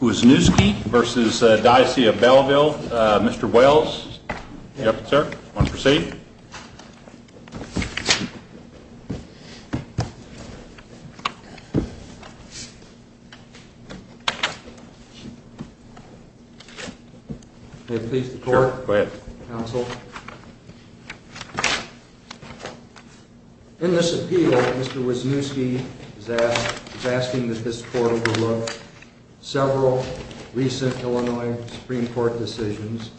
Wisniewski v. Diocese of Belleville. Mr. Wells? Yes, sir. Want to proceed? May it please the Court? Sure, go ahead. Counsel. In this appeal, Mr. Wisniewski is asking that this Court overlook several recent Illinois Supreme Court decisions,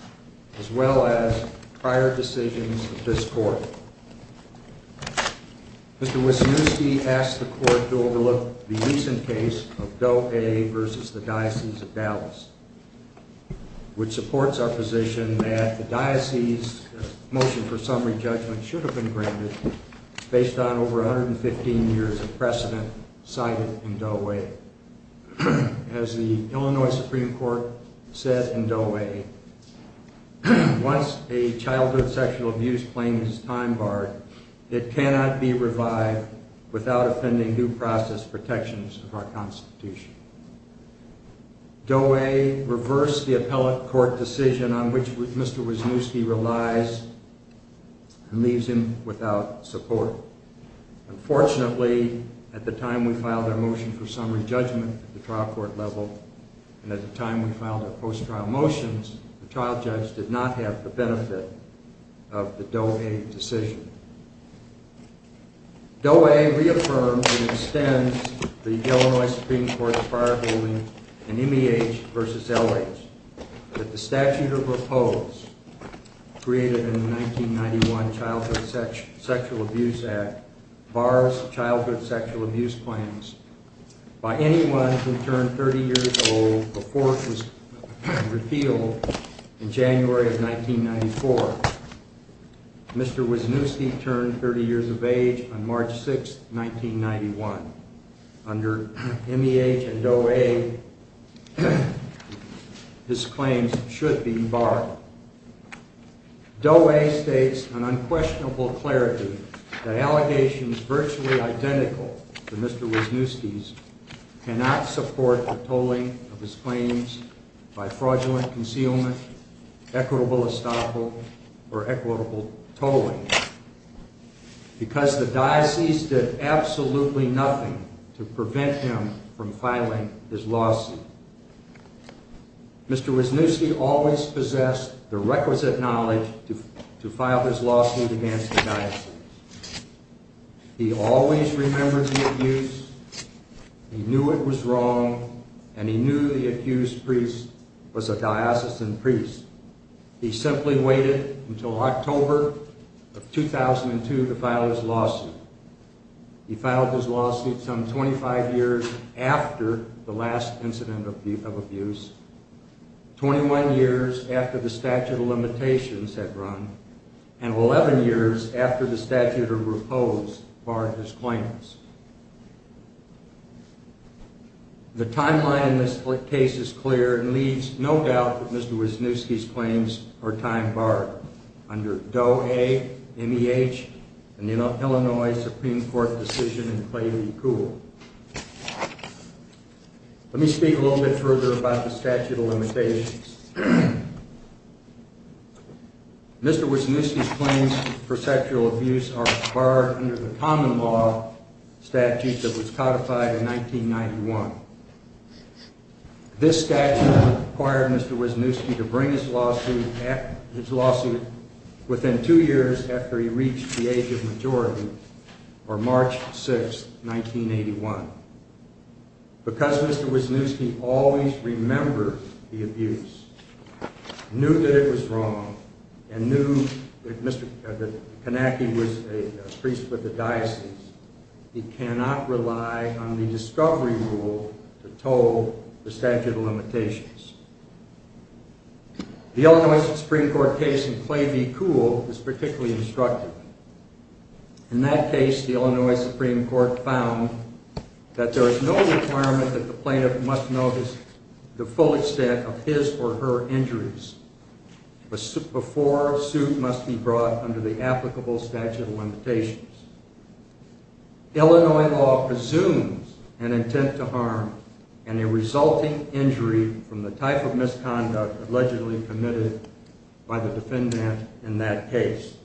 as well as prior decisions of this Court. Mr. Wisniewski asks the Court to overlook the recent case of Doe A v. The Diocese of Dallas, which supports our position that the Diocese's motion for summary judgment should have been granted based on over 115 years of precedent cited in Doe A. As the Illinois Supreme Court said in Doe A, once a childhood sexual abuse claim is time-barred, it cannot be revived without offending due process protections of our Constitution. Doe A reversed the appellate court decision on which Mr. Wisniewski relies and leaves him without support. Unfortunately, at the time we filed our motion for summary judgment at the trial court level, and at the time we filed our post-trial motions, the trial judge did not have the benefit of the Doe A decision. Doe A reaffirms and extends the Illinois Supreme Court's prior ruling in Immiage v. Elwage that the statute of repose created in the 1991 Childhood Sexual Abuse Act bars childhood sexual abuse claims by anyone who turned 30 years old before it was repealed in January of 1994. Mr. Wisniewski turned 30 years of age on March 6, 1991. Under Immiage and Doe A, his claims should be barred. Doe A states in unquestionable clarity that allegations virtually identical to Mr. Wisniewski's cannot support the tolling of his claims by fraudulent concealment, equitable estoppel, or equitable tolling, because the diocese did absolutely nothing to prevent him from filing his lawsuit. Mr. Wisniewski always possessed the requisite knowledge to file his lawsuit against the diocese. He always remembered the abuse, he knew it was wrong, and he knew the accused priest was a diocesan priest. He simply waited until October of 2002 to file his lawsuit. He filed his lawsuit some 25 years after the last incident of abuse, 21 years after the statute of limitations had run, and 11 years after the statute of repose barred his claims. The timeline in this case is clear and leaves no doubt that Mr. Wisniewski's claims are time-barred under Doe A, Immiage, and the Illinois Supreme Court decision in Clay v. Kuhl. Let me speak a little bit further about the statute of limitations. Mr. Wisniewski's claims for sexual abuse are barred under the common law statute that was codified in 1991. This statute required Mr. Wisniewski to bring his lawsuit within two years after he reached the age of majority, or March 6, 1981. Because Mr. Wisniewski always remembered the abuse, knew that it was wrong, and knew that Kanacki was a priest with the diocese, he cannot rely on the discovery rule to toll the statute of limitations. The Illinois Supreme Court case in Clay v. Kuhl is particularly instructive. In that case, the Illinois Supreme Court found that there is no requirement that the plaintiff must notice the full extent of his or her injuries before a suit must be brought under the applicable statute of limitations. Illinois law presumes an intent to harm and a resulting injury from the type of misconduct allegedly committed by the defendant in that case.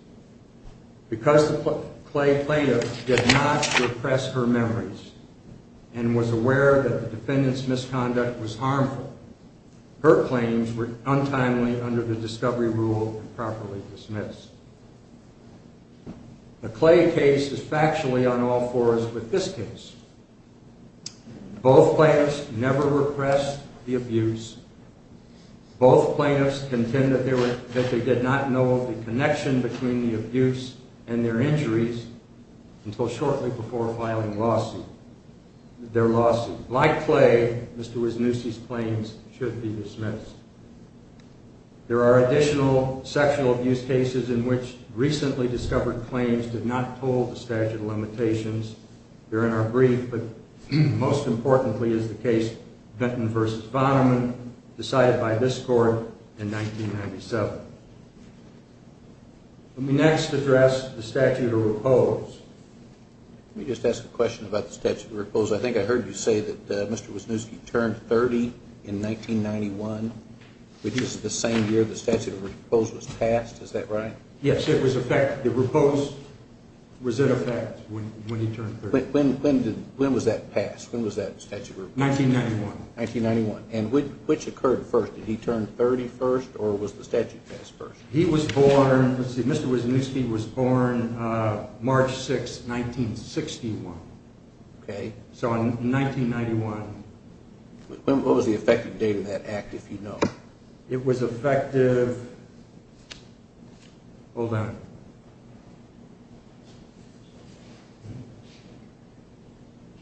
Because the Clay plaintiff did not repress her memories and was aware that the defendant's misconduct was harmful, her claims were untimely under the discovery rule and properly dismissed. The Clay case is factually on all fours with this case. Both plaintiffs never repressed the abuse. Both plaintiffs contend that they did not know the connection between the abuse and their injuries until shortly before filing their lawsuit. Like Clay, Mr. Wisniewski's claims should be dismissed. There are additional sexual abuse cases in which recently discovered claims did not toll the statute of limitations. They're in our brief, but most importantly is the case Vinton v. Vonneman decided by this court in 1997. Let me next address the statute of repose. Let me just ask a question about the statute of repose. I think I heard you say that Mr. Wisniewski turned 30 in 1991, which is the same year the statute of repose was passed, is that right? Yes, it was a fact. The repose was in effect when he turned 30. When was that passed? When was that statute of repose passed? 1991. And which occurred first? Did he turn 30 first or was the statute passed first? He was born, Mr. Wisniewski was born March 6, 1961. Okay. So in 1991. What was the effective date of that act if you know? It was effective, hold on,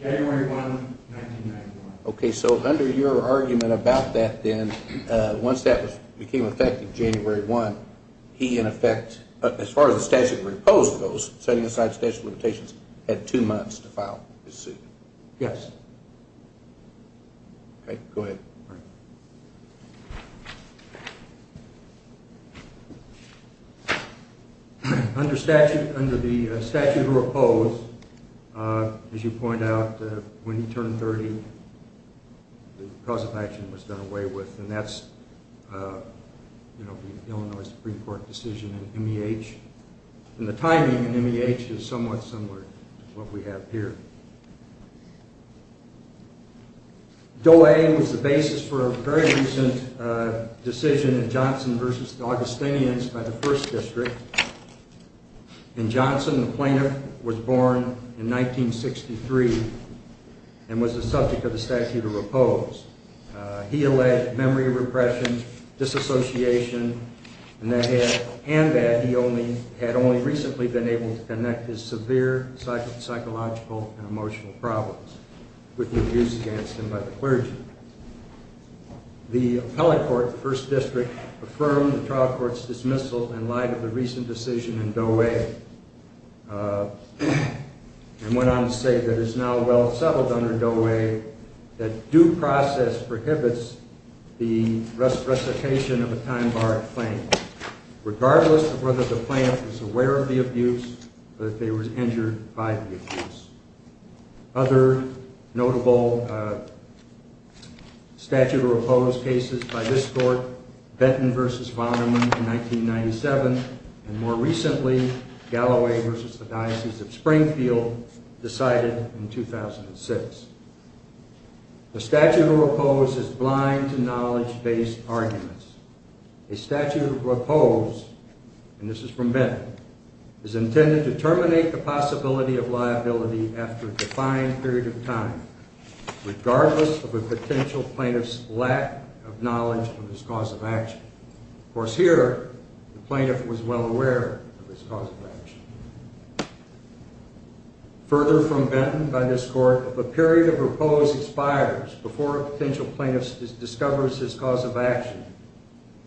January 1, 1991. Okay, so under your argument about that then, once that became effective January 1, he in effect, as far as the statute of repose goes, setting aside statute of limitations, had two months to file his suit. Yes. Okay, go ahead. Under the statute of repose, as you point out, when he turned 30, the cause of action was done away with, and that's the Illinois Supreme Court decision in MEH. And the timing in MEH is somewhat similar to what we have here. Doe A was the basis for a very recent decision in Johnson v. Augustinians by the First District. And Johnson, the plaintiff, was born in 1963 and was the subject of the statute of repose. He alleged memory repression, disassociation, and that he had only recently been able to connect his severe psychological and emotional problems with the abuse against him by the clergy. The appellate court, the First District, affirmed the trial court's dismissal in light of the recent decision in Doe A and went on to say that it is now well settled under Doe A that due process prohibits the resuscitation of a time-barred plaintiff, regardless of whether the plaintiff was aware of the abuse or if they were injured by the abuse. Other notable statute of repose cases by this court, Benton v. Vonderman in 1997, and more recently, Galloway v. The Diocese of Springfield, decided in 2006. The statute of repose is blind to knowledge-based arguments. A statute of repose, and this is from Benton, is intended to terminate the possibility of liability after a defined period of time, regardless of a potential plaintiff's lack of knowledge of his cause of action. Of course, here, the plaintiff was well aware of his cause of action. Further from Benton, by this court, if a period of repose expires before a potential plaintiff discovers his cause of action,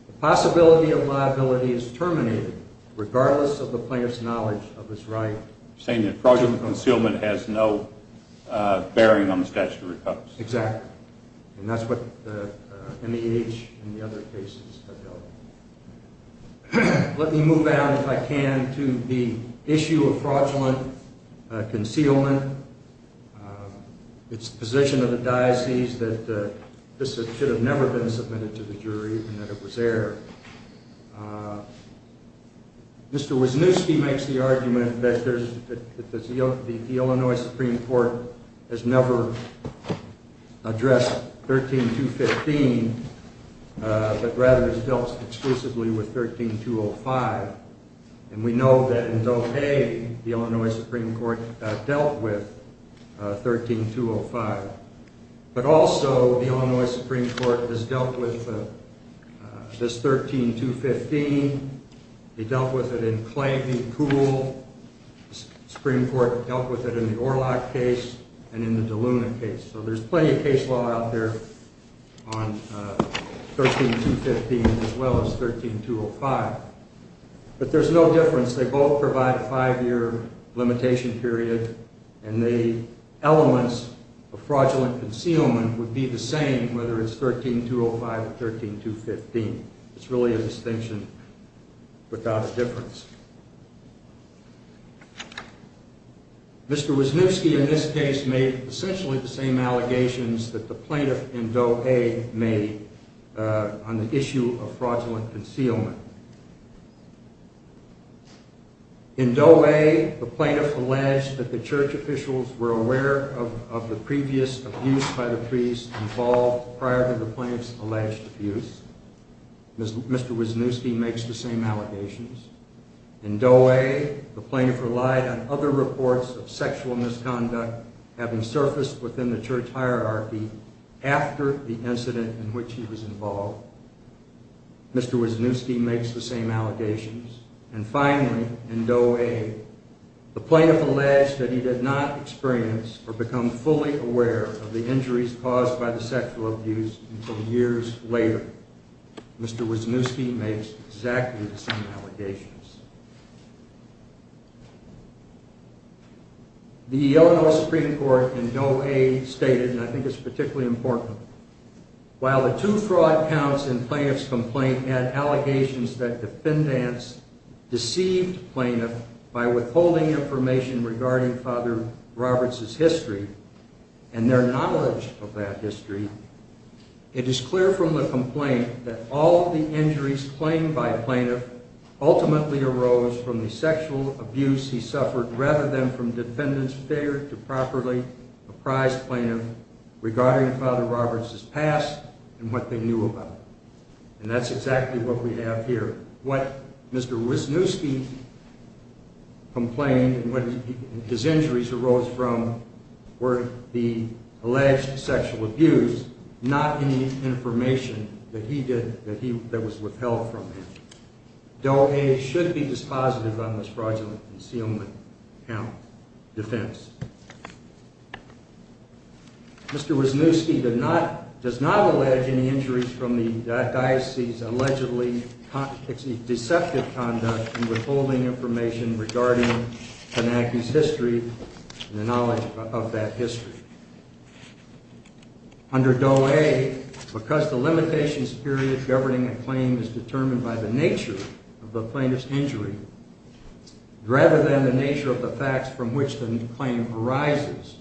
the possibility of liability is terminated regardless of the plaintiff's knowledge of his right. You're saying that fraudulent concealment has no bearing on the statute of repose. Exactly. And that's what the NEH and the other cases have dealt with. Let me move out, if I can, to the issue of fraudulent concealment. It's the position of the diocese that this should have never been submitted to the jury and that it was there. Mr. Wisniewski makes the argument that the Illinois Supreme Court has never addressed 13215, but rather has dealt exclusively with 13205. And we know that in Dopey, the Illinois Supreme Court dealt with 13205. But also the Illinois Supreme Court has dealt with this 13215. They dealt with it in Clay v. Poole. The Supreme Court dealt with it in the Orlock case and in the DeLuna case. So there's plenty of case law out there on 13215 as well as 13205. But there's no difference. They both provide a five-year limitation period. And the elements of fraudulent concealment would be the same whether it's 13205 or 13215. It's really a distinction without a difference. Mr. Wisniewski in this case made essentially the same allegations that the plaintiff in Dopey made on the issue of fraudulent concealment. In Dopey, the plaintiff alleged that the church officials were aware of the previous abuse by the priest involved prior to the plaintiff's alleged abuse. Mr. Wisniewski makes the same allegations. In Dopey, the plaintiff relied on other reports of sexual misconduct having surfaced within the church hierarchy after the incident in which he was involved. Mr. Wisniewski makes the same allegations. And finally, in Dopey, the plaintiff alleged that he did not experience or become fully aware of the injuries caused by the sexual abuse until years later. Mr. Wisniewski makes exactly the same allegations. The Illinois Supreme Court in Dopey stated, and I think it's particularly important, While the two fraud counts in the plaintiff's complaint had allegations that defendants deceived the plaintiff by withholding information regarding Fr. Roberts' history and their knowledge of that history, it is clear from the complaint that all of the injuries claimed by the plaintiff ultimately arose from the sexual abuse he suffered rather than from defendants' failure to properly apprise the plaintiff regarding Fr. Roberts' past and what they knew about it. And that's exactly what we have here. What Mr. Wisniewski complained and what his injuries arose from were the alleged sexual abuse, not any information that was withheld from him. Dopey should be dispositive on this fraudulent concealment count defense. Mr. Wisniewski does not allege any injuries from the diocese's allegedly deceptive conduct in withholding information regarding Panaki's history and the knowledge of that history. Under Doe A, because the limitations period governing a claim is determined by the nature of the plaintiff's injury rather than the nature of the facts from which the claim arises,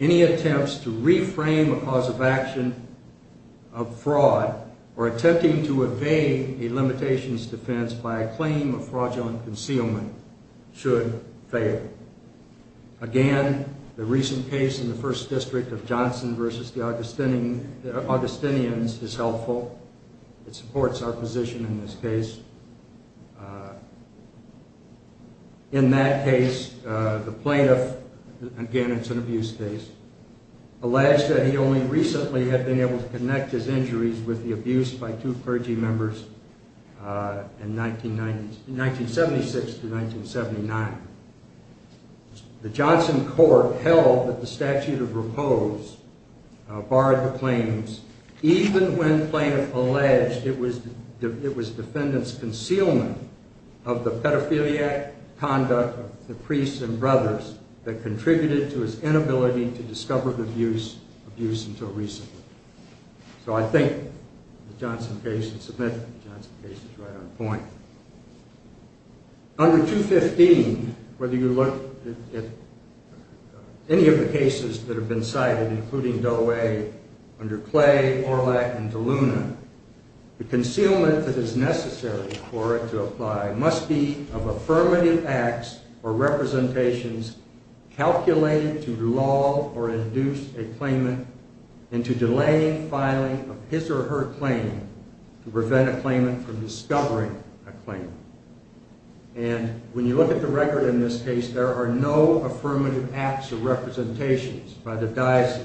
any attempts to reframe a cause of action of fraud or attempting to evade a limitations defense by a claim of fraudulent concealment should fail. Again, the recent case in the First District of Johnson v. The Augustinians is helpful. It supports our position in this case. In that case, the plaintiff, again it's an abuse case, alleged that he only recently had been able to connect his injuries with the abuse by two clergy members in 1976-1979. The Johnson court held that the statute of repose barred the claims even when the plaintiff alleged it was the defendant's concealment of the pedophiliac conduct of the priests and brothers that contributed to his inability to discover the abuse until recently. So I think the Johnson case is right on point. Under 215, whether you look at any of the cases that have been cited, including Doe A, under Clay, Orlak, and DeLuna, the concealment that is necessary for it to apply must be of affirmative acts or representations calculated to lull or induce a claimant into delaying filing of his or her claim to prevent a claimant from discovering a claim. And when you look at the record in this case, there are no affirmative acts or representations by the diocese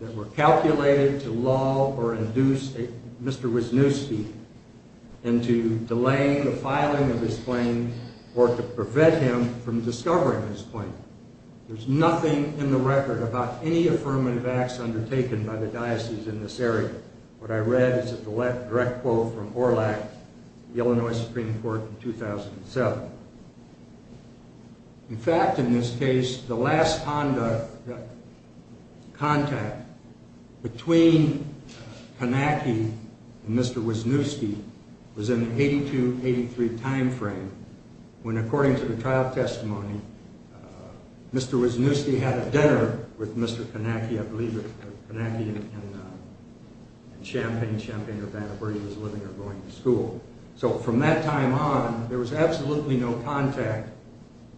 that were calculated to lull or induce Mr. Wisniewski into delaying the filing of his claim or to prevent him from discovering his claim. There's nothing in the record about any affirmative acts undertaken by the diocese in this area. What I read is a direct quote from Orlak at the Illinois Supreme Court in 2007. In fact, in this case, the last conduct, contact, between Panaki and Mr. Wisniewski was in the 82-83 time frame when, according to the trial testimony, Mr. Wisniewski had a dinner with Mr. Panaki in Champaign, Champaign, Urbana, where he was living or going to school. So from that time on, there was absolutely no contact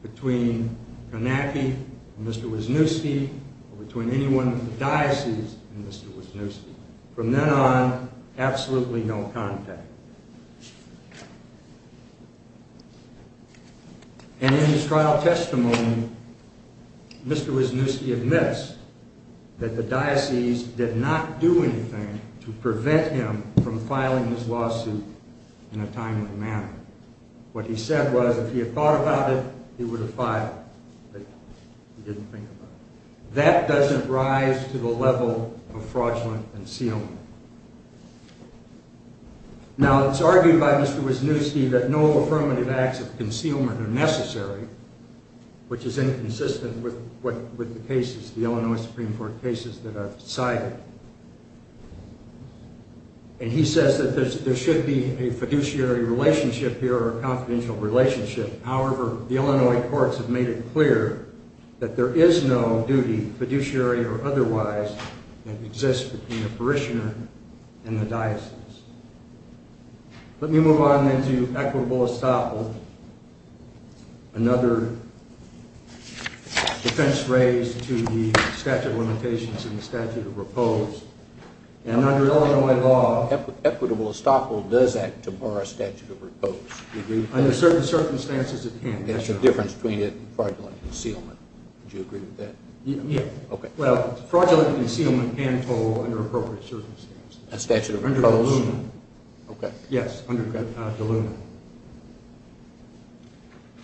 between Panaki and Mr. Wisniewski or between anyone in the diocese and Mr. Wisniewski. From then on, absolutely no contact. And in his trial testimony, Mr. Wisniewski admits that the diocese did not do anything to prevent him from filing his lawsuit in a timely manner. What he said was if he had thought about it, he would have filed, but he didn't think about it. That doesn't rise to the level of fraudulent concealment. Now, it's argued by Mr. Wisniewski that no affirmative acts of concealment are necessary, which is inconsistent with the cases, the Illinois Supreme Court cases that are cited. And he says that there should be a fiduciary relationship here or a confidential relationship. However, the Illinois courts have made it clear that there is no duty, fiduciary or otherwise, that exists between the parishioner and the diocese. Let me move on then to equitable estoppel, another defense raised to the statute of limitations and the statute of repose. And under Illinois law, equitable estoppel does act to bar a statute of repose. Under certain circumstances, it can. There's a difference between it and fraudulent concealment. Do you agree with that? Yeah. Well, fraudulent concealment can fall under appropriate circumstances. A statute of repose? Under the lumen. Okay. Yes, under the lumen.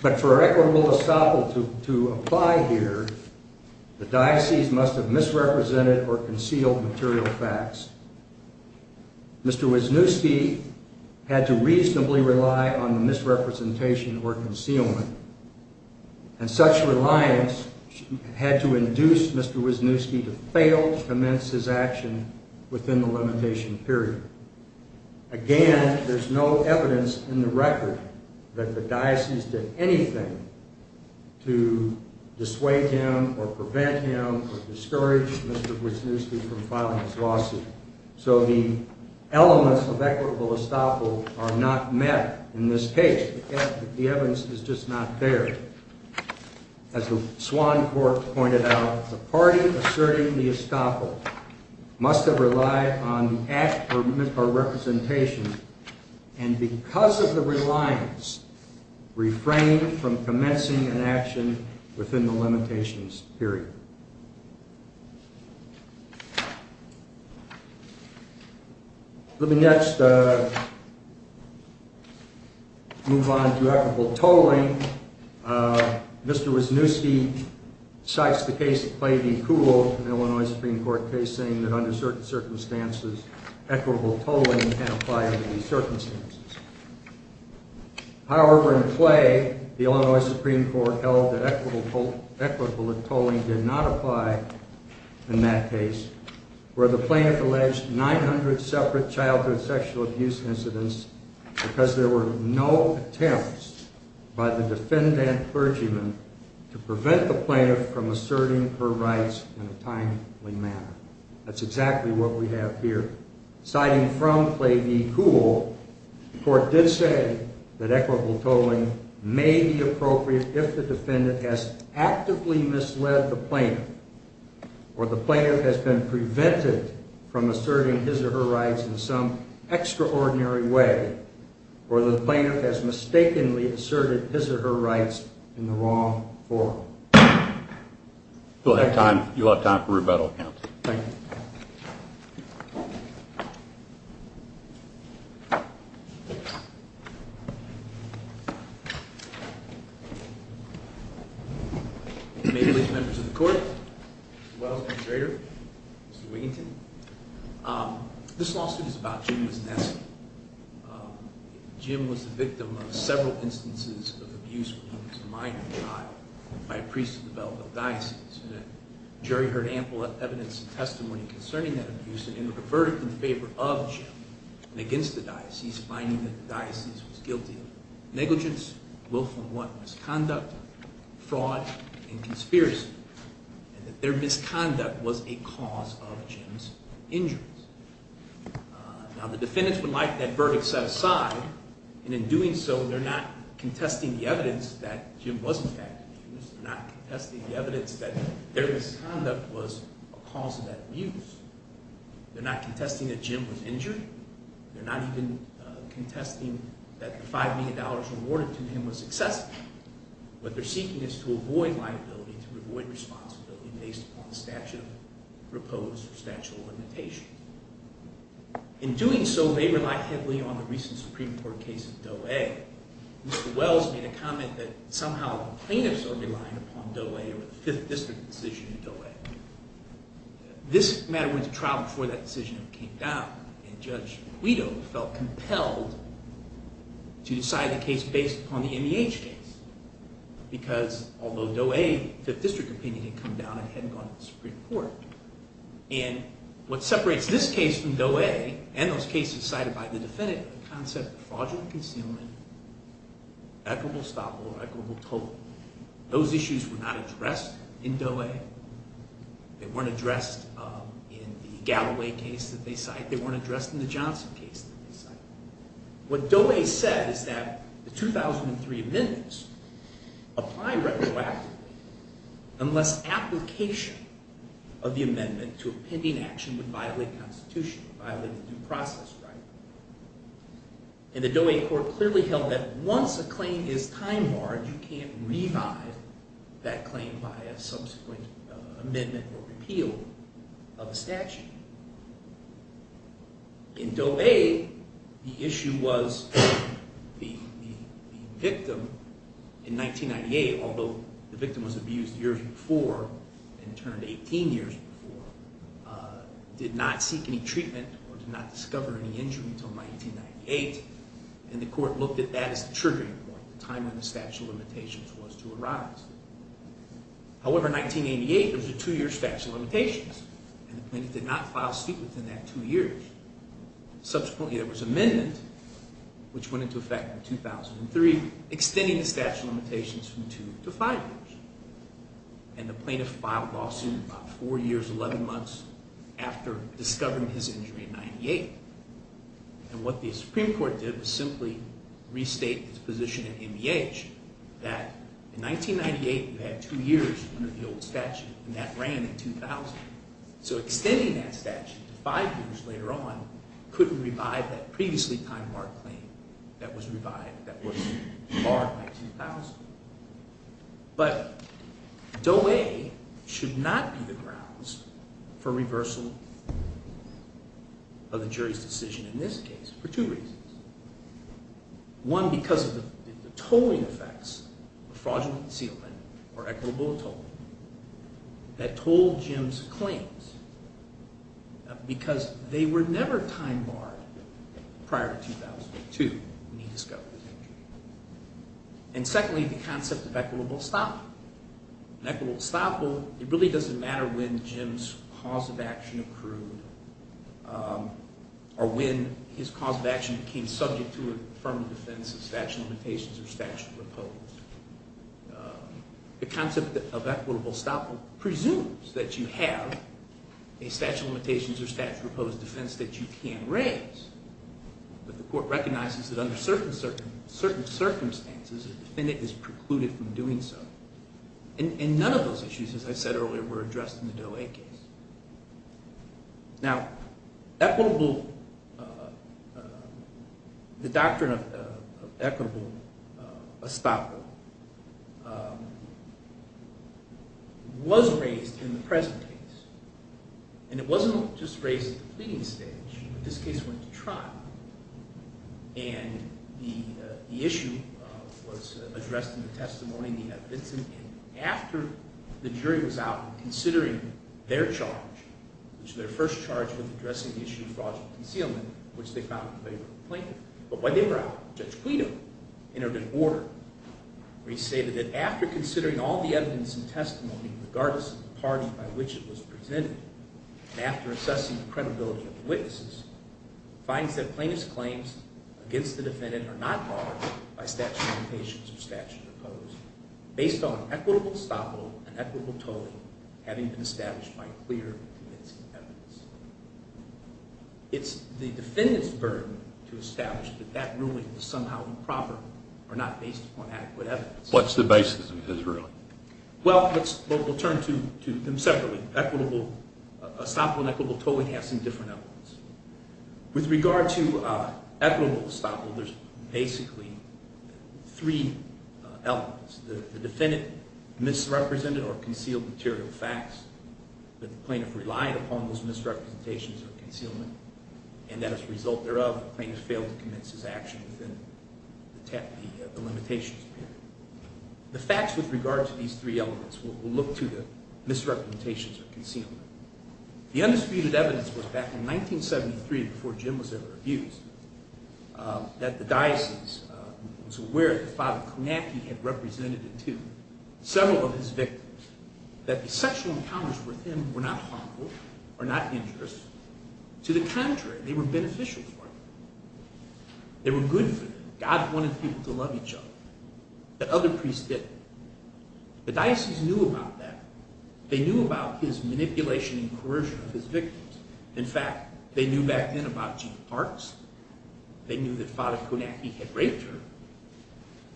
But for equitable estoppel to apply here, the diocese must have misrepresented or concealed material facts. Mr. Wisniewski had to reasonably rely on the misrepresentation or concealment, and such reliance had to induce Mr. Wisniewski to fail to commence his action within the limitation period. Again, there's no evidence in the record that the diocese did anything to dissuade him or prevent him or discourage Mr. Wisniewski from filing his lawsuit. So the elements of equitable estoppel are not met in this case. The evidence is just not there. As the Swan Court pointed out, the party asserting the estoppel must have relied on the act or misrepresentation, and because of the reliance, refrained from commencing an action within the limitations period. Let me next move on to equitable tolling. Mr. Wisniewski cites the case of Clay v. Kuhl, an Illinois Supreme Court case, saying that under certain circumstances, equitable tolling can't apply under these circumstances. However, in Clay, the Illinois Supreme Court held that equitable tolling did not apply in that case, where the plaintiff alleged 900 separate childhood sexual abuse incidents because there were no attempts by the defendant clergyman to prevent the plaintiff from asserting her rights in a timely manner. That's exactly what we have here. Citing from Clay v. Kuhl, the court did say that equitable tolling may be appropriate if the defendant has actively misled the plaintiff, or the plaintiff has been prevented from asserting his or her rights in some extraordinary way, or the plaintiff has mistakenly asserted his or her rights in the wrong form. We'll have time, you'll have time for rebuttal. Thank you. Members of the court, Mr. Wells, Administrator, Mr. Wiginton, this lawsuit is about Jim Wisniewski. Jim was the victim of several instances of abuse when he was a minor child by a priest of the Belleville Diocese. The jury heard ample evidence and testimony concerning that abuse and then reverted in favor of Jim and against the diocese, finding that the diocese was guilty of negligence, willful and want misconduct, fraud, and conspiracy, and that their misconduct was a cause of Jim's injuries. Now, the defendants would like that verdict set aside, and in doing so, they're not contesting the evidence that Jim was, in fact, abused. They're not contesting the evidence that their misconduct was a cause of that abuse. They're not contesting that Jim was injured. They're not even contesting that the $5 million awarded to him was excessive. What they're seeking is to avoid liability, to avoid responsibility based upon the statute of repose or statute of limitations. In doing so, they rely heavily on the recent Supreme Court case of Doe A. Mr. Wells made a comment that somehow the plaintiffs are relying upon Doe A or the Fifth District decision of Doe A. This matter went to trial before that decision came down, and Judge Guido felt compelled to decide the case based upon the MEH case. Because although Doe A, the Fifth District opinion, had come down and hadn't gone to the Supreme Court, and what separates this case from Doe A, and those cases cited by the defendant, the concept of fraudulent concealment, equitable stopover, equitable total, those issues were not addressed in Doe A. They weren't addressed in the Galloway case that they cite. They weren't addressed in the Johnson case that they cite. What Doe A said is that the 2003 amendments apply retroactively unless application of the amendment to a pending action would violate Constitution, violate the due process right. And the Doe A court clearly held that once a claim is time barred, you can't revive that claim by a subsequent amendment or repeal of a statute. In Doe A, the issue was the victim in 1998, although the victim was abused years before and turned 18 years before, did not seek any treatment or did not discover any injury until 1998. And the court looked at that as the triggering point, the time when the statute of limitations was to arise. However, in 1988, there was a two-year statute of limitations, and the plaintiff did not file suit within that two years. Subsequently, there was amendment, which went into effect in 2003, extending the statute of limitations from two to five years. And the plaintiff filed lawsuit about four years, 11 months after discovering his injury in 98. And what the Supreme Court did was simply restate its position in NEH that in 1998, you had two years under the old statute, and that ran in 2000. So extending that statute to five years later on couldn't revive that previously time-barred claim that was revived, that was barred by 2000. But Doe A should not be the grounds for reversal of the jury's decision in this case for two reasons. One, because of the tolling effects of fraudulent concealment or equitable tolling that told Jim's claims because they were never time-barred prior to 2002 when he discovered his injury. And secondly, the concept of equitable estoppel. Equitable estoppel, it really doesn't matter when Jim's cause of action accrued or when his cause of action became subject to a firm defense of statute of limitations or statute of repose. The concept of equitable estoppel presumes that you have a statute of limitations or statute of repose defense that you can raise. But the court recognizes that under certain circumstances, a defendant is precluded from doing so. And none of those issues, as I said earlier, were addressed in the Doe A case. Now, equitable – the doctrine of equitable estoppel was raised in the present case. And it wasn't just raised at the pleading stage. And the issue was addressed in the testimony in the evidence. And after the jury was out considering their charge, which was their first charge with addressing the issue of fraudulent concealment, which they found in favor of the plaintiff. But when they were out, Judge Guido entered an order where he stated that after considering all the evidence and testimony, regardless of the party by which it was presented, and after assessing the credibility of the witnesses, finds that plaintiff's claims against the defendant are not barred by statute of limitations or statute of repose, based on equitable estoppel and equitable tolling having been established by clear and convincing evidence. It's the defendant's burden to establish that that ruling is somehow improper or not based on adequate evidence. What's the basis of his ruling? Well, we'll turn to them separately. Equitable estoppel and equitable tolling have some different elements. With regard to equitable estoppel, there's basically three elements. The defendant misrepresented or concealed material facts that the plaintiff relied upon those misrepresentations or concealment. And as a result thereof, the plaintiff failed to commence his action within the limitations period. The facts with regard to these three elements, we'll look to the misrepresentations or concealment. The undisputed evidence was back in 1973, before Jim was ever abused, that the diocese was aware that Father Konecki had represented to several of his victims that the sexual encounters with him were not harmful or not injurious. To the contrary, they were beneficial for them. They were good for them. God wanted people to love each other. The other priests didn't. The diocese knew about that. They knew about his manipulation and coercion of his victims. In fact, they knew back then about Jean Parks. They knew that Father Konecki had raped her.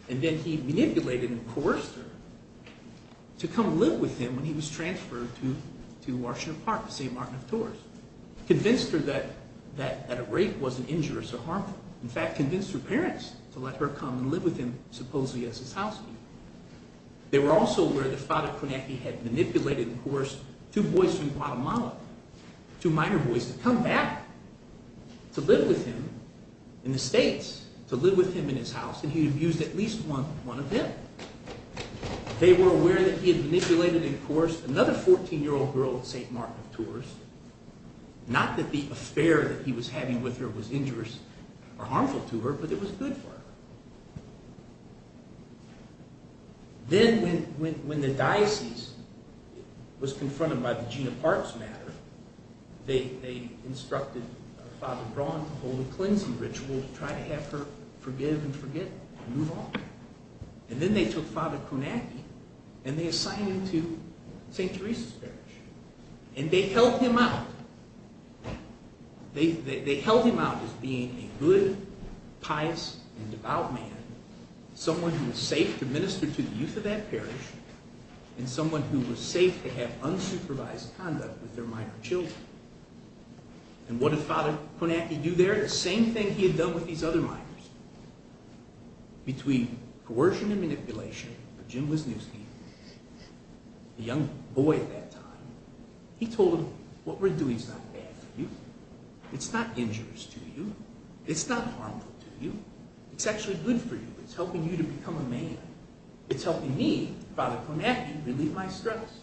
And then he manipulated and coerced her to come live with him when he was transferred to Washington Park, to St. Martin of Tours. Convinced her that a rape wasn't injurious or harmful. In fact, convinced her parents to let her come and live with him, supposedly as his housekeeper. They were also aware that Father Konecki had manipulated and coerced two boys from Guatemala, two minor boys, to come back to live with him in the States, to live with him in his house, and he abused at least one of them. They were aware that he had manipulated and coerced another 14-year-old girl at St. Martin of Tours. Not that the affair that he was having with her was injurious or harmful to her, but it was good for her. Then when the diocese was confronted by the Jean Parks matter, they instructed Father Braun to hold a cleansing ritual to try to have her forgive and forget and move on. And then they took Father Konecki and they assigned him to St. Teresa's parish. And they held him out. They held him out as being a good, pious, and devout man, someone who was safe to minister to the youth of that parish, and someone who was safe to have unsupervised conduct with their minor children. And what did Father Konecki do there? He did the same thing he had done with these other minors. Between coercion and manipulation, but Jim was new to him, a young boy at that time, he told him, what we're doing is not bad for you. It's not injurious to you. It's not harmful to you. It's actually good for you. It's helping you to become a man. It's helping me, Father Konecki, relieve my stress.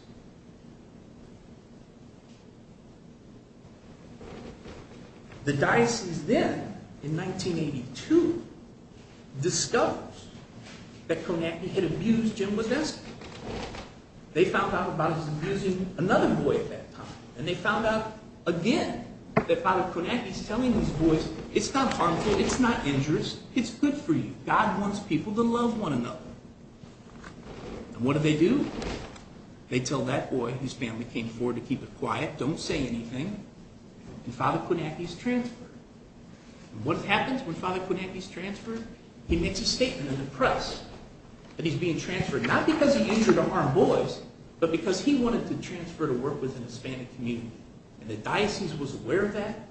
The diocese then, in 1982, discovers that Konecki had abused Jim Wodeski. They found out about his abusing another boy at that time. And they found out again that Father Konecki is telling these boys, it's not harmful, it's not injurious, it's good for you. God wants people to love one another. And what do they do? They tell that boy whose family came forward to keep it quiet, don't say anything, and Father Konecki's transferred. And what happens when Father Konecki's transferred? He makes a statement in the press that he's being transferred, not because he injured or harmed boys, but because he wanted to transfer to work with an Hispanic community. And the diocese was aware of that,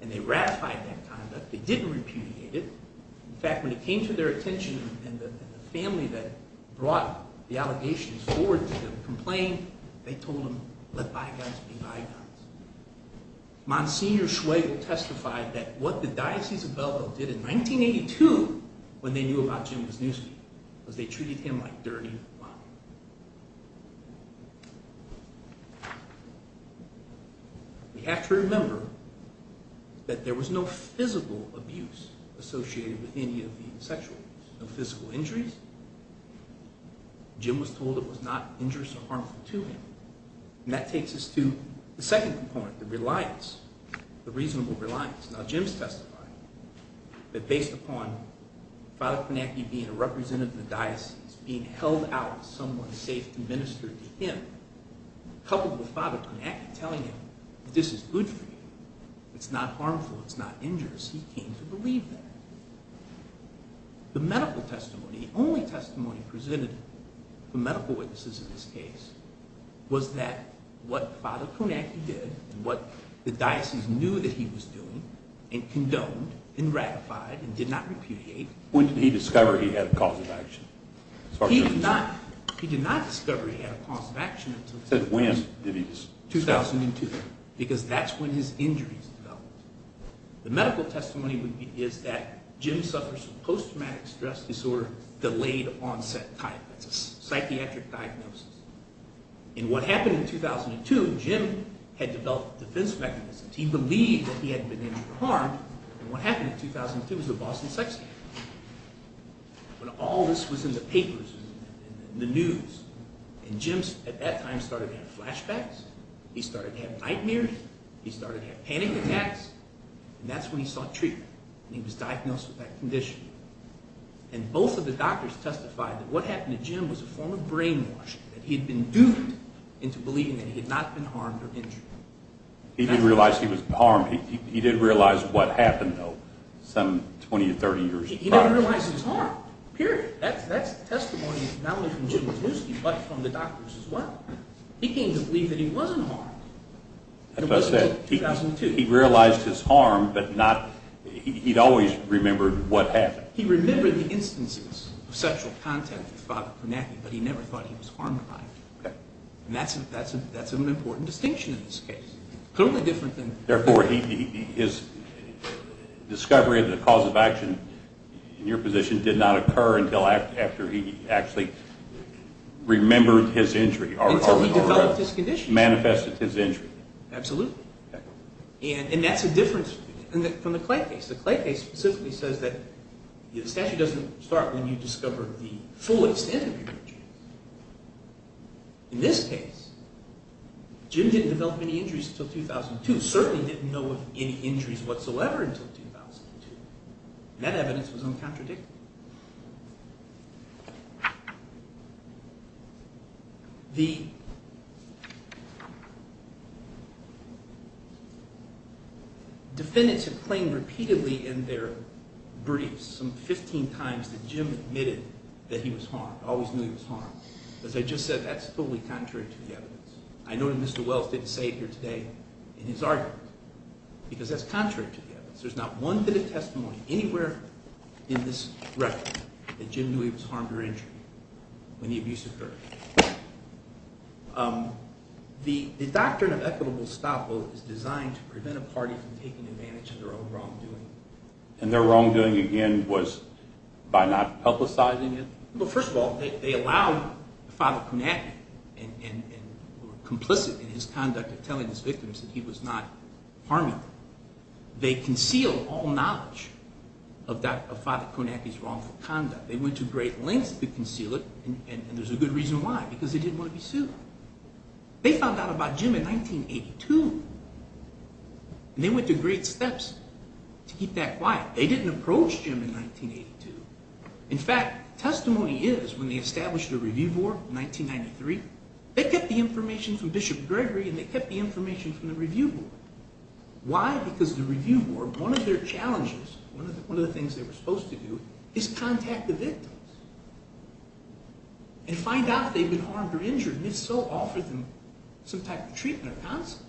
and they ratified that conduct. They didn't repudiate it. In fact, when it came to their attention, and the family that brought the allegations forward to them complained, they told them, let bygones be bygones. Monsignor Schwebel testified that what the Diocese of Belleville did in 1982 when they knew about Jim Wodeski was they treated him like dirty money. We have to remember that there was no physical abuse associated with any of the sexual abuse, no physical injuries. Jim was told it was not injurious or harmful to him. And that takes us to the second component, the reliance, the reasonable reliance. Now Jim's testifying that based upon Father Konecki being a representative of the diocese, being held out as someone safe to minister to him, coupled with Father Konecki telling him, this is good for you, it's not harmful, it's not injurious, he came to believe that. The medical testimony, the only testimony presented to medical witnesses in this case, was that what Father Konecki did and what the diocese knew that he was doing and condoned and ratified and did not repudiate. When did he discover he had a cause of action? He did not discover he had a cause of action until 2002. Because that's when his injuries developed. The medical testimony is that Jim suffers from post-traumatic stress disorder delayed onset type. That's a psychiatric diagnosis. And what happened in 2002, Jim had developed defense mechanisms. He believed that he had been injured or harmed, and what happened in 2002 was a Boston sex scandal. When all this was in the papers and the news, and Jim at that time started to have flashbacks, he started to have nightmares, he started to have panic attacks, and that's when he sought treatment, and he was diagnosed with that condition. And both of the doctors testified that what happened to Jim was a form of brainwashing, that he had been doomed into believing that he had not been harmed or injured. He didn't realize he was harmed. He did realize what happened, though, some 20 or 30 years prior. He never realized he was harmed, period. That testimony is not only from Jim Matuski, but from the doctors as well. He came to believe that he wasn't harmed, and it wasn't until 2002. He realized his harm, but he'd always remembered what happened. He remembered the instances of sexual contact with Father Kornathian, but he never thought he was harmed by it. And that's an important distinction in this case. Totally different than... Therefore, his discovery of the cause of action in your position did not occur until after he actually remembered his injury or manifested his injury. Absolutely. And that's a difference from the Clay case. The Clay case specifically says that the statute doesn't start when you discover the full extent of your injuries. In this case, Jim didn't develop any injuries until 2002, certainly didn't know of any injuries whatsoever until 2002, and that evidence was uncontradictory. The defendants have claimed repeatedly in their briefs some 15 times that Jim admitted that he was harmed, always knew he was harmed. As I just said, that's totally contrary to the evidence. I know that Mr. Wells didn't say it here today in his argument, because that's contrary to the evidence. There's not one bit of testimony anywhere in this record that Jim knew he was harmed or injured when the abuse occurred. The doctrine of equitable stoppage is designed to prevent a party from taking advantage of their own wrongdoing. And their wrongdoing, again, was by not publicizing it? Well, first of all, they allowed Father Konacki, and were complicit in his conduct of telling his victims that he was not harmed. They concealed all knowledge of Father Konacki's wrongful conduct. They went to great lengths to conceal it, and there's a good reason why, because they didn't want to be sued. They found out about Jim in 1982, and they went to great steps to keep that quiet. They didn't approach Jim in 1982. In fact, testimony is, when they established the Review Board in 1993, they kept the information from Bishop Gregory, and they kept the information from the Review Board. Why? Because the Review Board, one of their challenges, one of the things they were supposed to do, is contact the victims and find out if they'd been harmed or injured, and if so, offer them some type of treatment or counsel.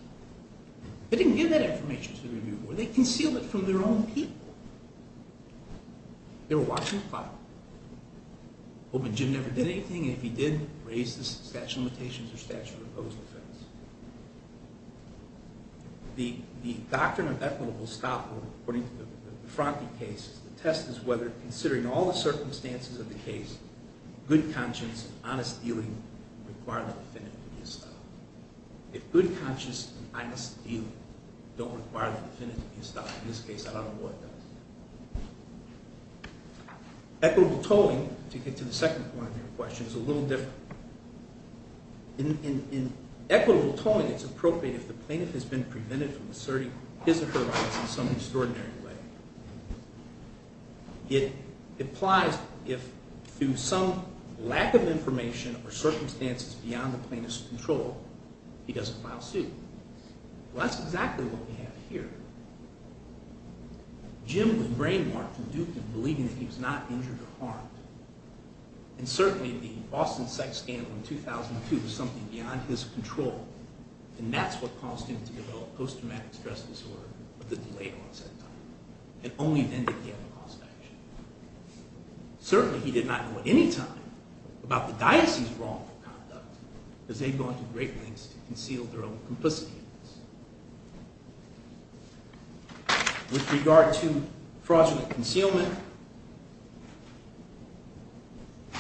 They didn't give that information to the Review Board. They concealed it from their own people. They were watching the file, hoping Jim never did anything, and if he did, raise the statute of limitations or statute of opposing offense. The doctrine of equitable stopover, according to the Franti case, the test is whether, considering all the circumstances of the case, good conscience and honest dealing require the defendant to be stopped. If good conscience and honest dealing don't require the defendant to be stopped, in this case, I don't know what does. Equitable tolling, to get to the second point of your question, is a little different. In equitable tolling, it's appropriate if the plaintiff has been prevented from asserting his or her rights in some extraordinary way. It applies if, through some lack of information or circumstances beyond the plaintiff's control, he doesn't file suit. Well, that's exactly what we have here. Jim was brainwashed and duped into believing that he was not injured or harmed, and certainly the Austin sex scandal in 2002 was something beyond his control, and that's what caused him to develop post-traumatic stress disorder of the delayed onset time, and only then did he have a cause for action. Certainly, he did not know at any time about the diocese's wrongful conduct, as they'd gone to great lengths to conceal their own complicity. With regard to fraudulent concealment,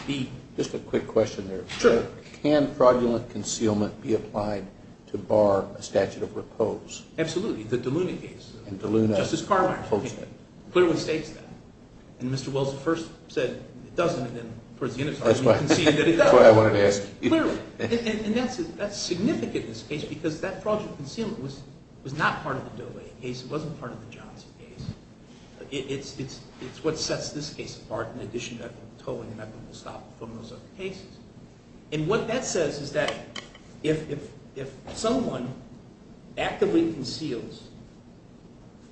the... Just a quick question there. Sure. Can fraudulent concealment be applied to bar a statute of repose? Absolutely, the DeLuna case. And DeLuna... Justice Carwin clearly states that. And Mr. Wells first said it doesn't, and then... That's why I wanted to ask you. Clearly. And that's significant in this case, because that fraudulent concealment was not part of the DeLuna case. It wasn't part of the Johnson case. It's what sets this case apart, in addition to equitable tolling and equitable stop and phone and those other cases. And what that says is that if someone actively conceals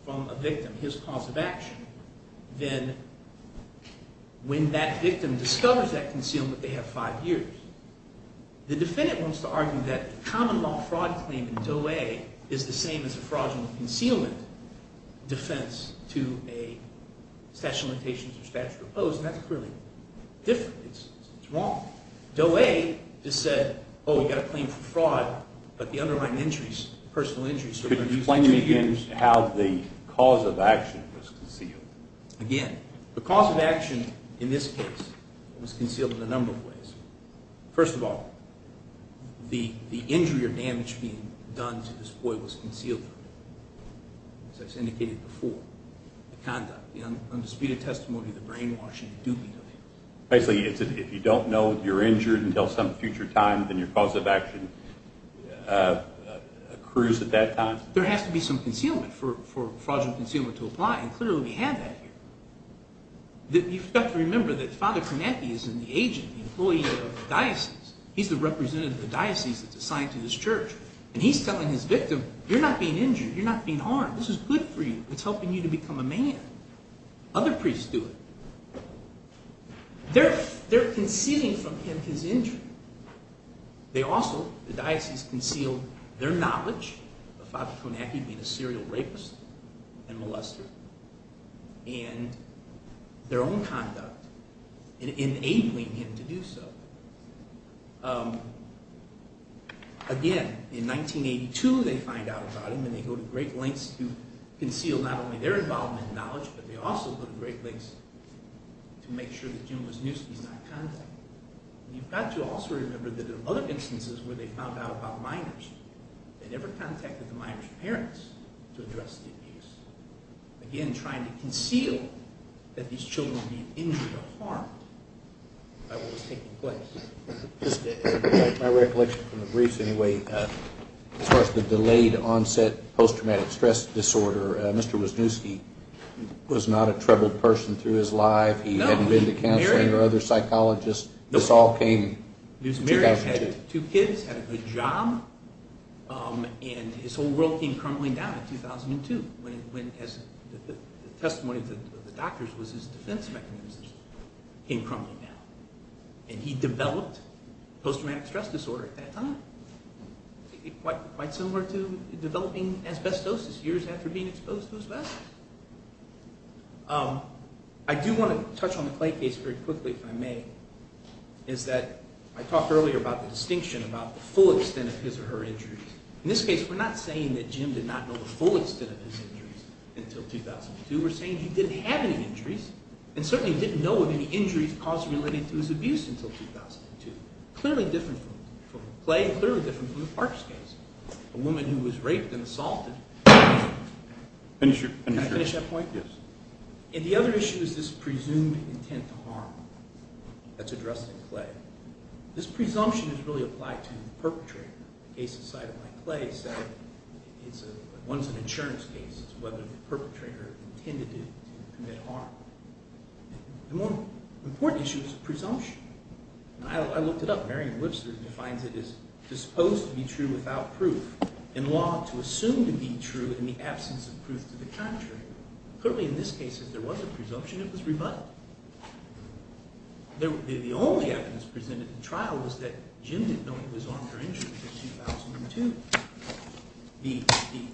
from a victim his cause of action, then when that victim discovers that concealment, they have five years. The defendant wants to argue that common law fraud claim in Doe A is the same as a fraudulent concealment defense to a statute of limitations or statute of repose, and that's clearly different. It's wrong. Doe A just said, oh, we've got a claim for fraud, but the underlying injuries, personal injuries... Could you explain to me again how the cause of action was concealed? Again, the cause of action in this case was concealed in a number of ways. First of all, the injury or damage being done to this boy was concealed. As I've indicated before, the conduct, the undisputed testimony, the brainwashing, the duping of him. Basically, if you don't know you're injured until some future time, then your cause of action accrues at that time? There has to be some concealment for fraudulent concealment to apply, and clearly we have that here. You've got to remember that Father Konecki is an agent, an employee of the diocese. He's the representative of the diocese that's assigned to this church, and he's telling his victim, you're not being injured, you're not being harmed. This is good for you. It's helping you to become a man. Other priests do it. They're concealing from him his injury. They also, the diocese, conceal their knowledge of Father Konecki being a serial rapist and molester, and their own conduct in enabling him to do so. Again, in 1982, they find out about him, and they go to great lengths to conceal not only their involvement and knowledge, but they also go to great lengths to make sure that Jim Wisniewski is not contacted. You've got to also remember that in other instances where they found out about minors, they never contacted the minor's parents to address the abuse, again trying to conceal that these children were being injured or harmed by what was taking place. My recollection from the briefs, anyway, as far as the delayed onset post-traumatic stress disorder, Mr. Wisniewski was not a troubled person through his life. He hadn't been to counseling or other psychologists. This all came in 2002. He was married, had two kids, had a good job, and his whole world came crumbling down in 2002 when the testimony of the doctors was his defense mechanisms came crumbling down. And he developed post-traumatic stress disorder at that time, quite similar to developing asbestosis years after being exposed to asbestos. I do want to touch on the Clay case very quickly, if I may, is that I talked earlier about the distinction about the full extent of his or her injuries. In this case, we're not saying that Jim did not know the full extent of his injuries until 2002. We're saying he didn't have any injuries and certainly didn't know of any injuries caused relating to his abuse until 2002, clearly different from Clay and clearly different from the Parks case, a woman who was raped and assaulted. Can I finish that point? Yes. And the other issue is this presumed intent to harm that's addressed in Clay. This presumption is really applied to the perpetrator. The case inside of my Clay said it's a – one's an insurance case. It's whether the perpetrator intended to commit harm. The more important issue is presumption. I looked it up. Merriam-Wilson defines it as disposed to be true without proof, in law to assume to be true in the absence of proof to the contrary. Clearly, in this case, if there was a presumption, it was rebutted. The only evidence presented in trial was that Jim didn't know he was armed for injury until 2002. The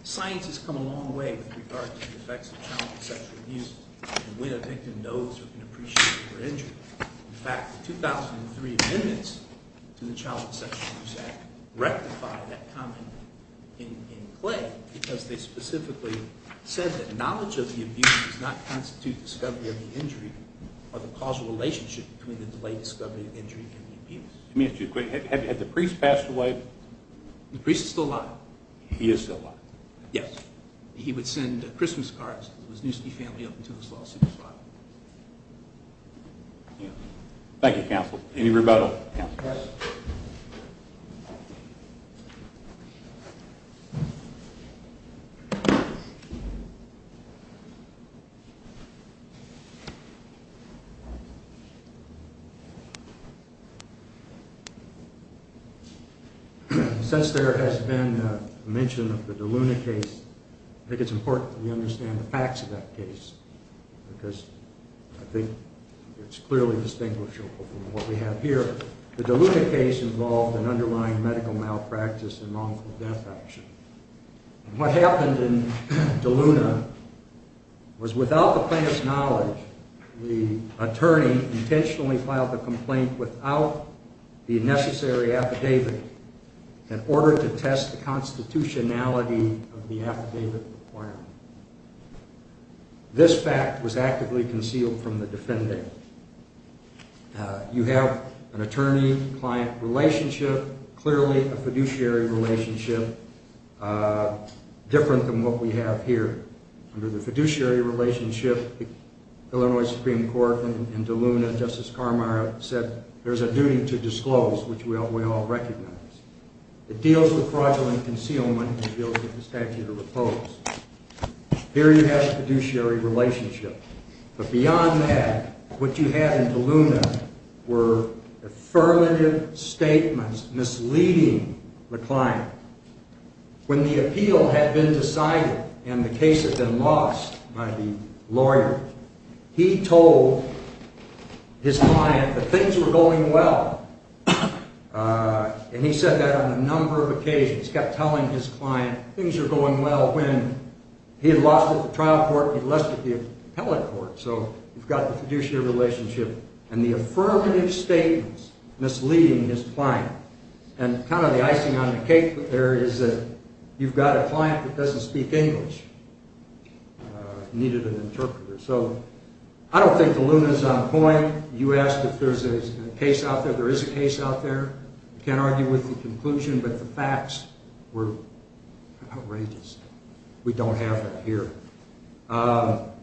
science has come a long way with regard to the effects of child sexual abuse when a victim knows or can appreciate their injury. In fact, the 2003 amendments to the Child Sexual Abuse Act rectify that comment in Clay because they specifically said that knowledge of the abuse does not constitute discovery of the injury or the causal relationship between the delayed discovery of the injury and the abuse. Let me ask you a question. Had the priest passed away? The priest is still alive. He is still alive. Yes. He would send Christmas cards to his Newsky family up until his lawsuit was filed. Thank you, counsel. Any rebuttal? Yes. Thank you. Since there has been mention of the De Luna case, I think it's important that we understand the facts of that case because I think it's clearly distinguishable from what we have here. The De Luna case involved an underlying medical malpractice and wrongful death action. What happened in De Luna was without the plaintiff's knowledge, the attorney intentionally filed the complaint without the necessary affidavit in order to test the constitutionality of the affidavit requirement. This fact was actively concealed from the defendant. You have an attorney-client relationship, clearly a fiduciary relationship. Different than what we have here. Under the fiduciary relationship, the Illinois Supreme Court in De Luna, Justice Carmire said there's a duty to disclose, which we all recognize. It deals with fraudulent concealment and deals with the statute of repose. Here you have a fiduciary relationship. But beyond that, what you had in De Luna were affirmative statements misleading the client. When the appeal had been decided and the case had been lost by the lawyer, he told his client that things were going well. And he said that on a number of occasions. Kept telling his client things were going well when he had lost it at the trial court and he'd lost it at the appellate court. So you've got the fiduciary relationship. And the affirmative statements misleading his client. And kind of the icing on the cake there is that you've got a client that doesn't speak English. Needed an interpreter. So I don't think De Luna's on point. You asked if there's a case out there. There is a case out there. Can't argue with the conclusion, but the facts were outrageous. We don't have it here. On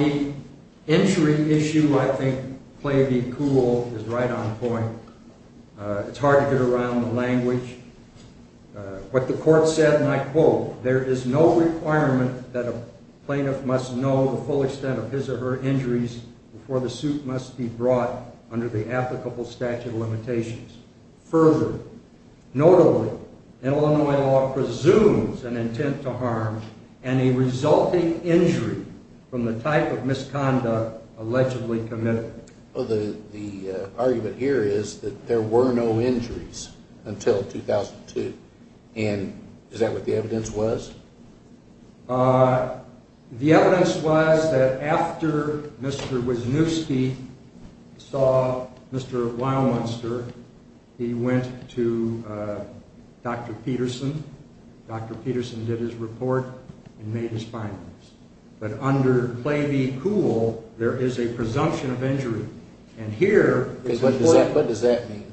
the injury issue, I think play be cool is right on point. It's hard to get around the language. What the court said, and I quote, there is no requirement that a plaintiff must know the full extent of his or her injuries before the suit must be brought under the applicable statute of limitations. Further, notably, Illinois law presumes an intent to harm and a resulting injury from the type of misconduct allegedly committed. The argument here is that there were no injuries until 2002. And is that what the evidence was? The evidence was that after Mr. Wisniewski saw Mr. Wildmonster, he went to Dr. Peterson. Dr. Peterson did his report and made his findings. But under play be cool, there is a presumption of injury. And here is the point. What does that mean?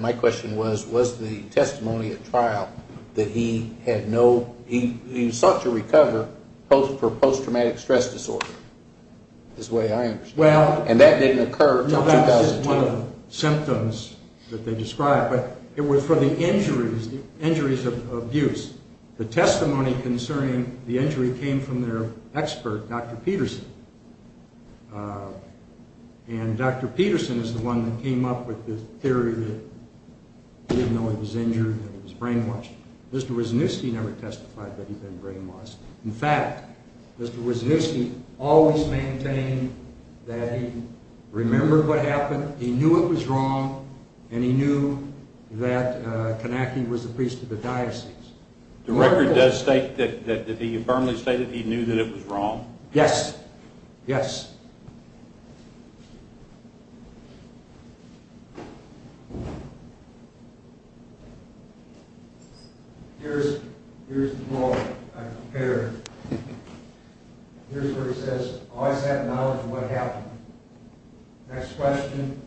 My question was, was the testimony at trial that he had no, he sought to recover for post-traumatic stress disorder, is the way I understand it. And that didn't occur until 2012. No, that was just one of the symptoms that they described. But it was for the injuries of abuse. The testimony concerning the injury came from their expert, Dr. Peterson. And Dr. Peterson is the one that came up with the theory that he didn't know he was injured, that he was brainwashed. Mr. Wisniewski never testified that he'd been brainwashed. In fact, Mr. Wisniewski always maintained that he remembered what happened, he knew it was wrong, and he knew that Kanacki was the priest of the diocese. The record does state that he firmly stated he knew that it was wrong? Yes. Yes. Here's the blog I prepared. Here's where he says, I always had knowledge of what happened. Next question.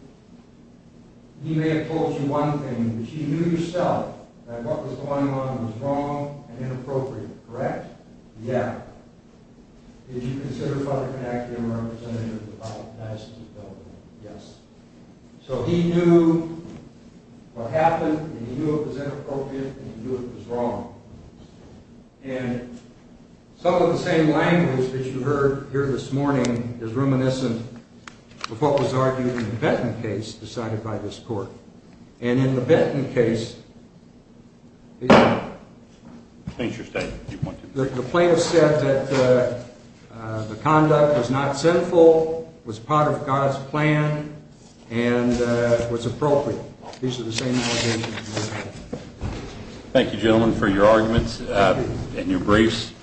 He may have told you one thing, but you knew yourself that what was going on was wrong and inappropriate, correct? Yeah. Did you consider Father Kanacki a representative of the diocese of Delaware? Yes. So he knew what happened, and he knew it was inappropriate, and he knew it was wrong. And some of the same language that you heard here this morning is reminiscent of what was argued in the Benton case decided by this court. And in the Benton case, the plaintiff said, that the conduct was not sinful, was part of God's plan, and was appropriate. These are the same allegations. Thank you, gentlemen, for your arguments and your briefs.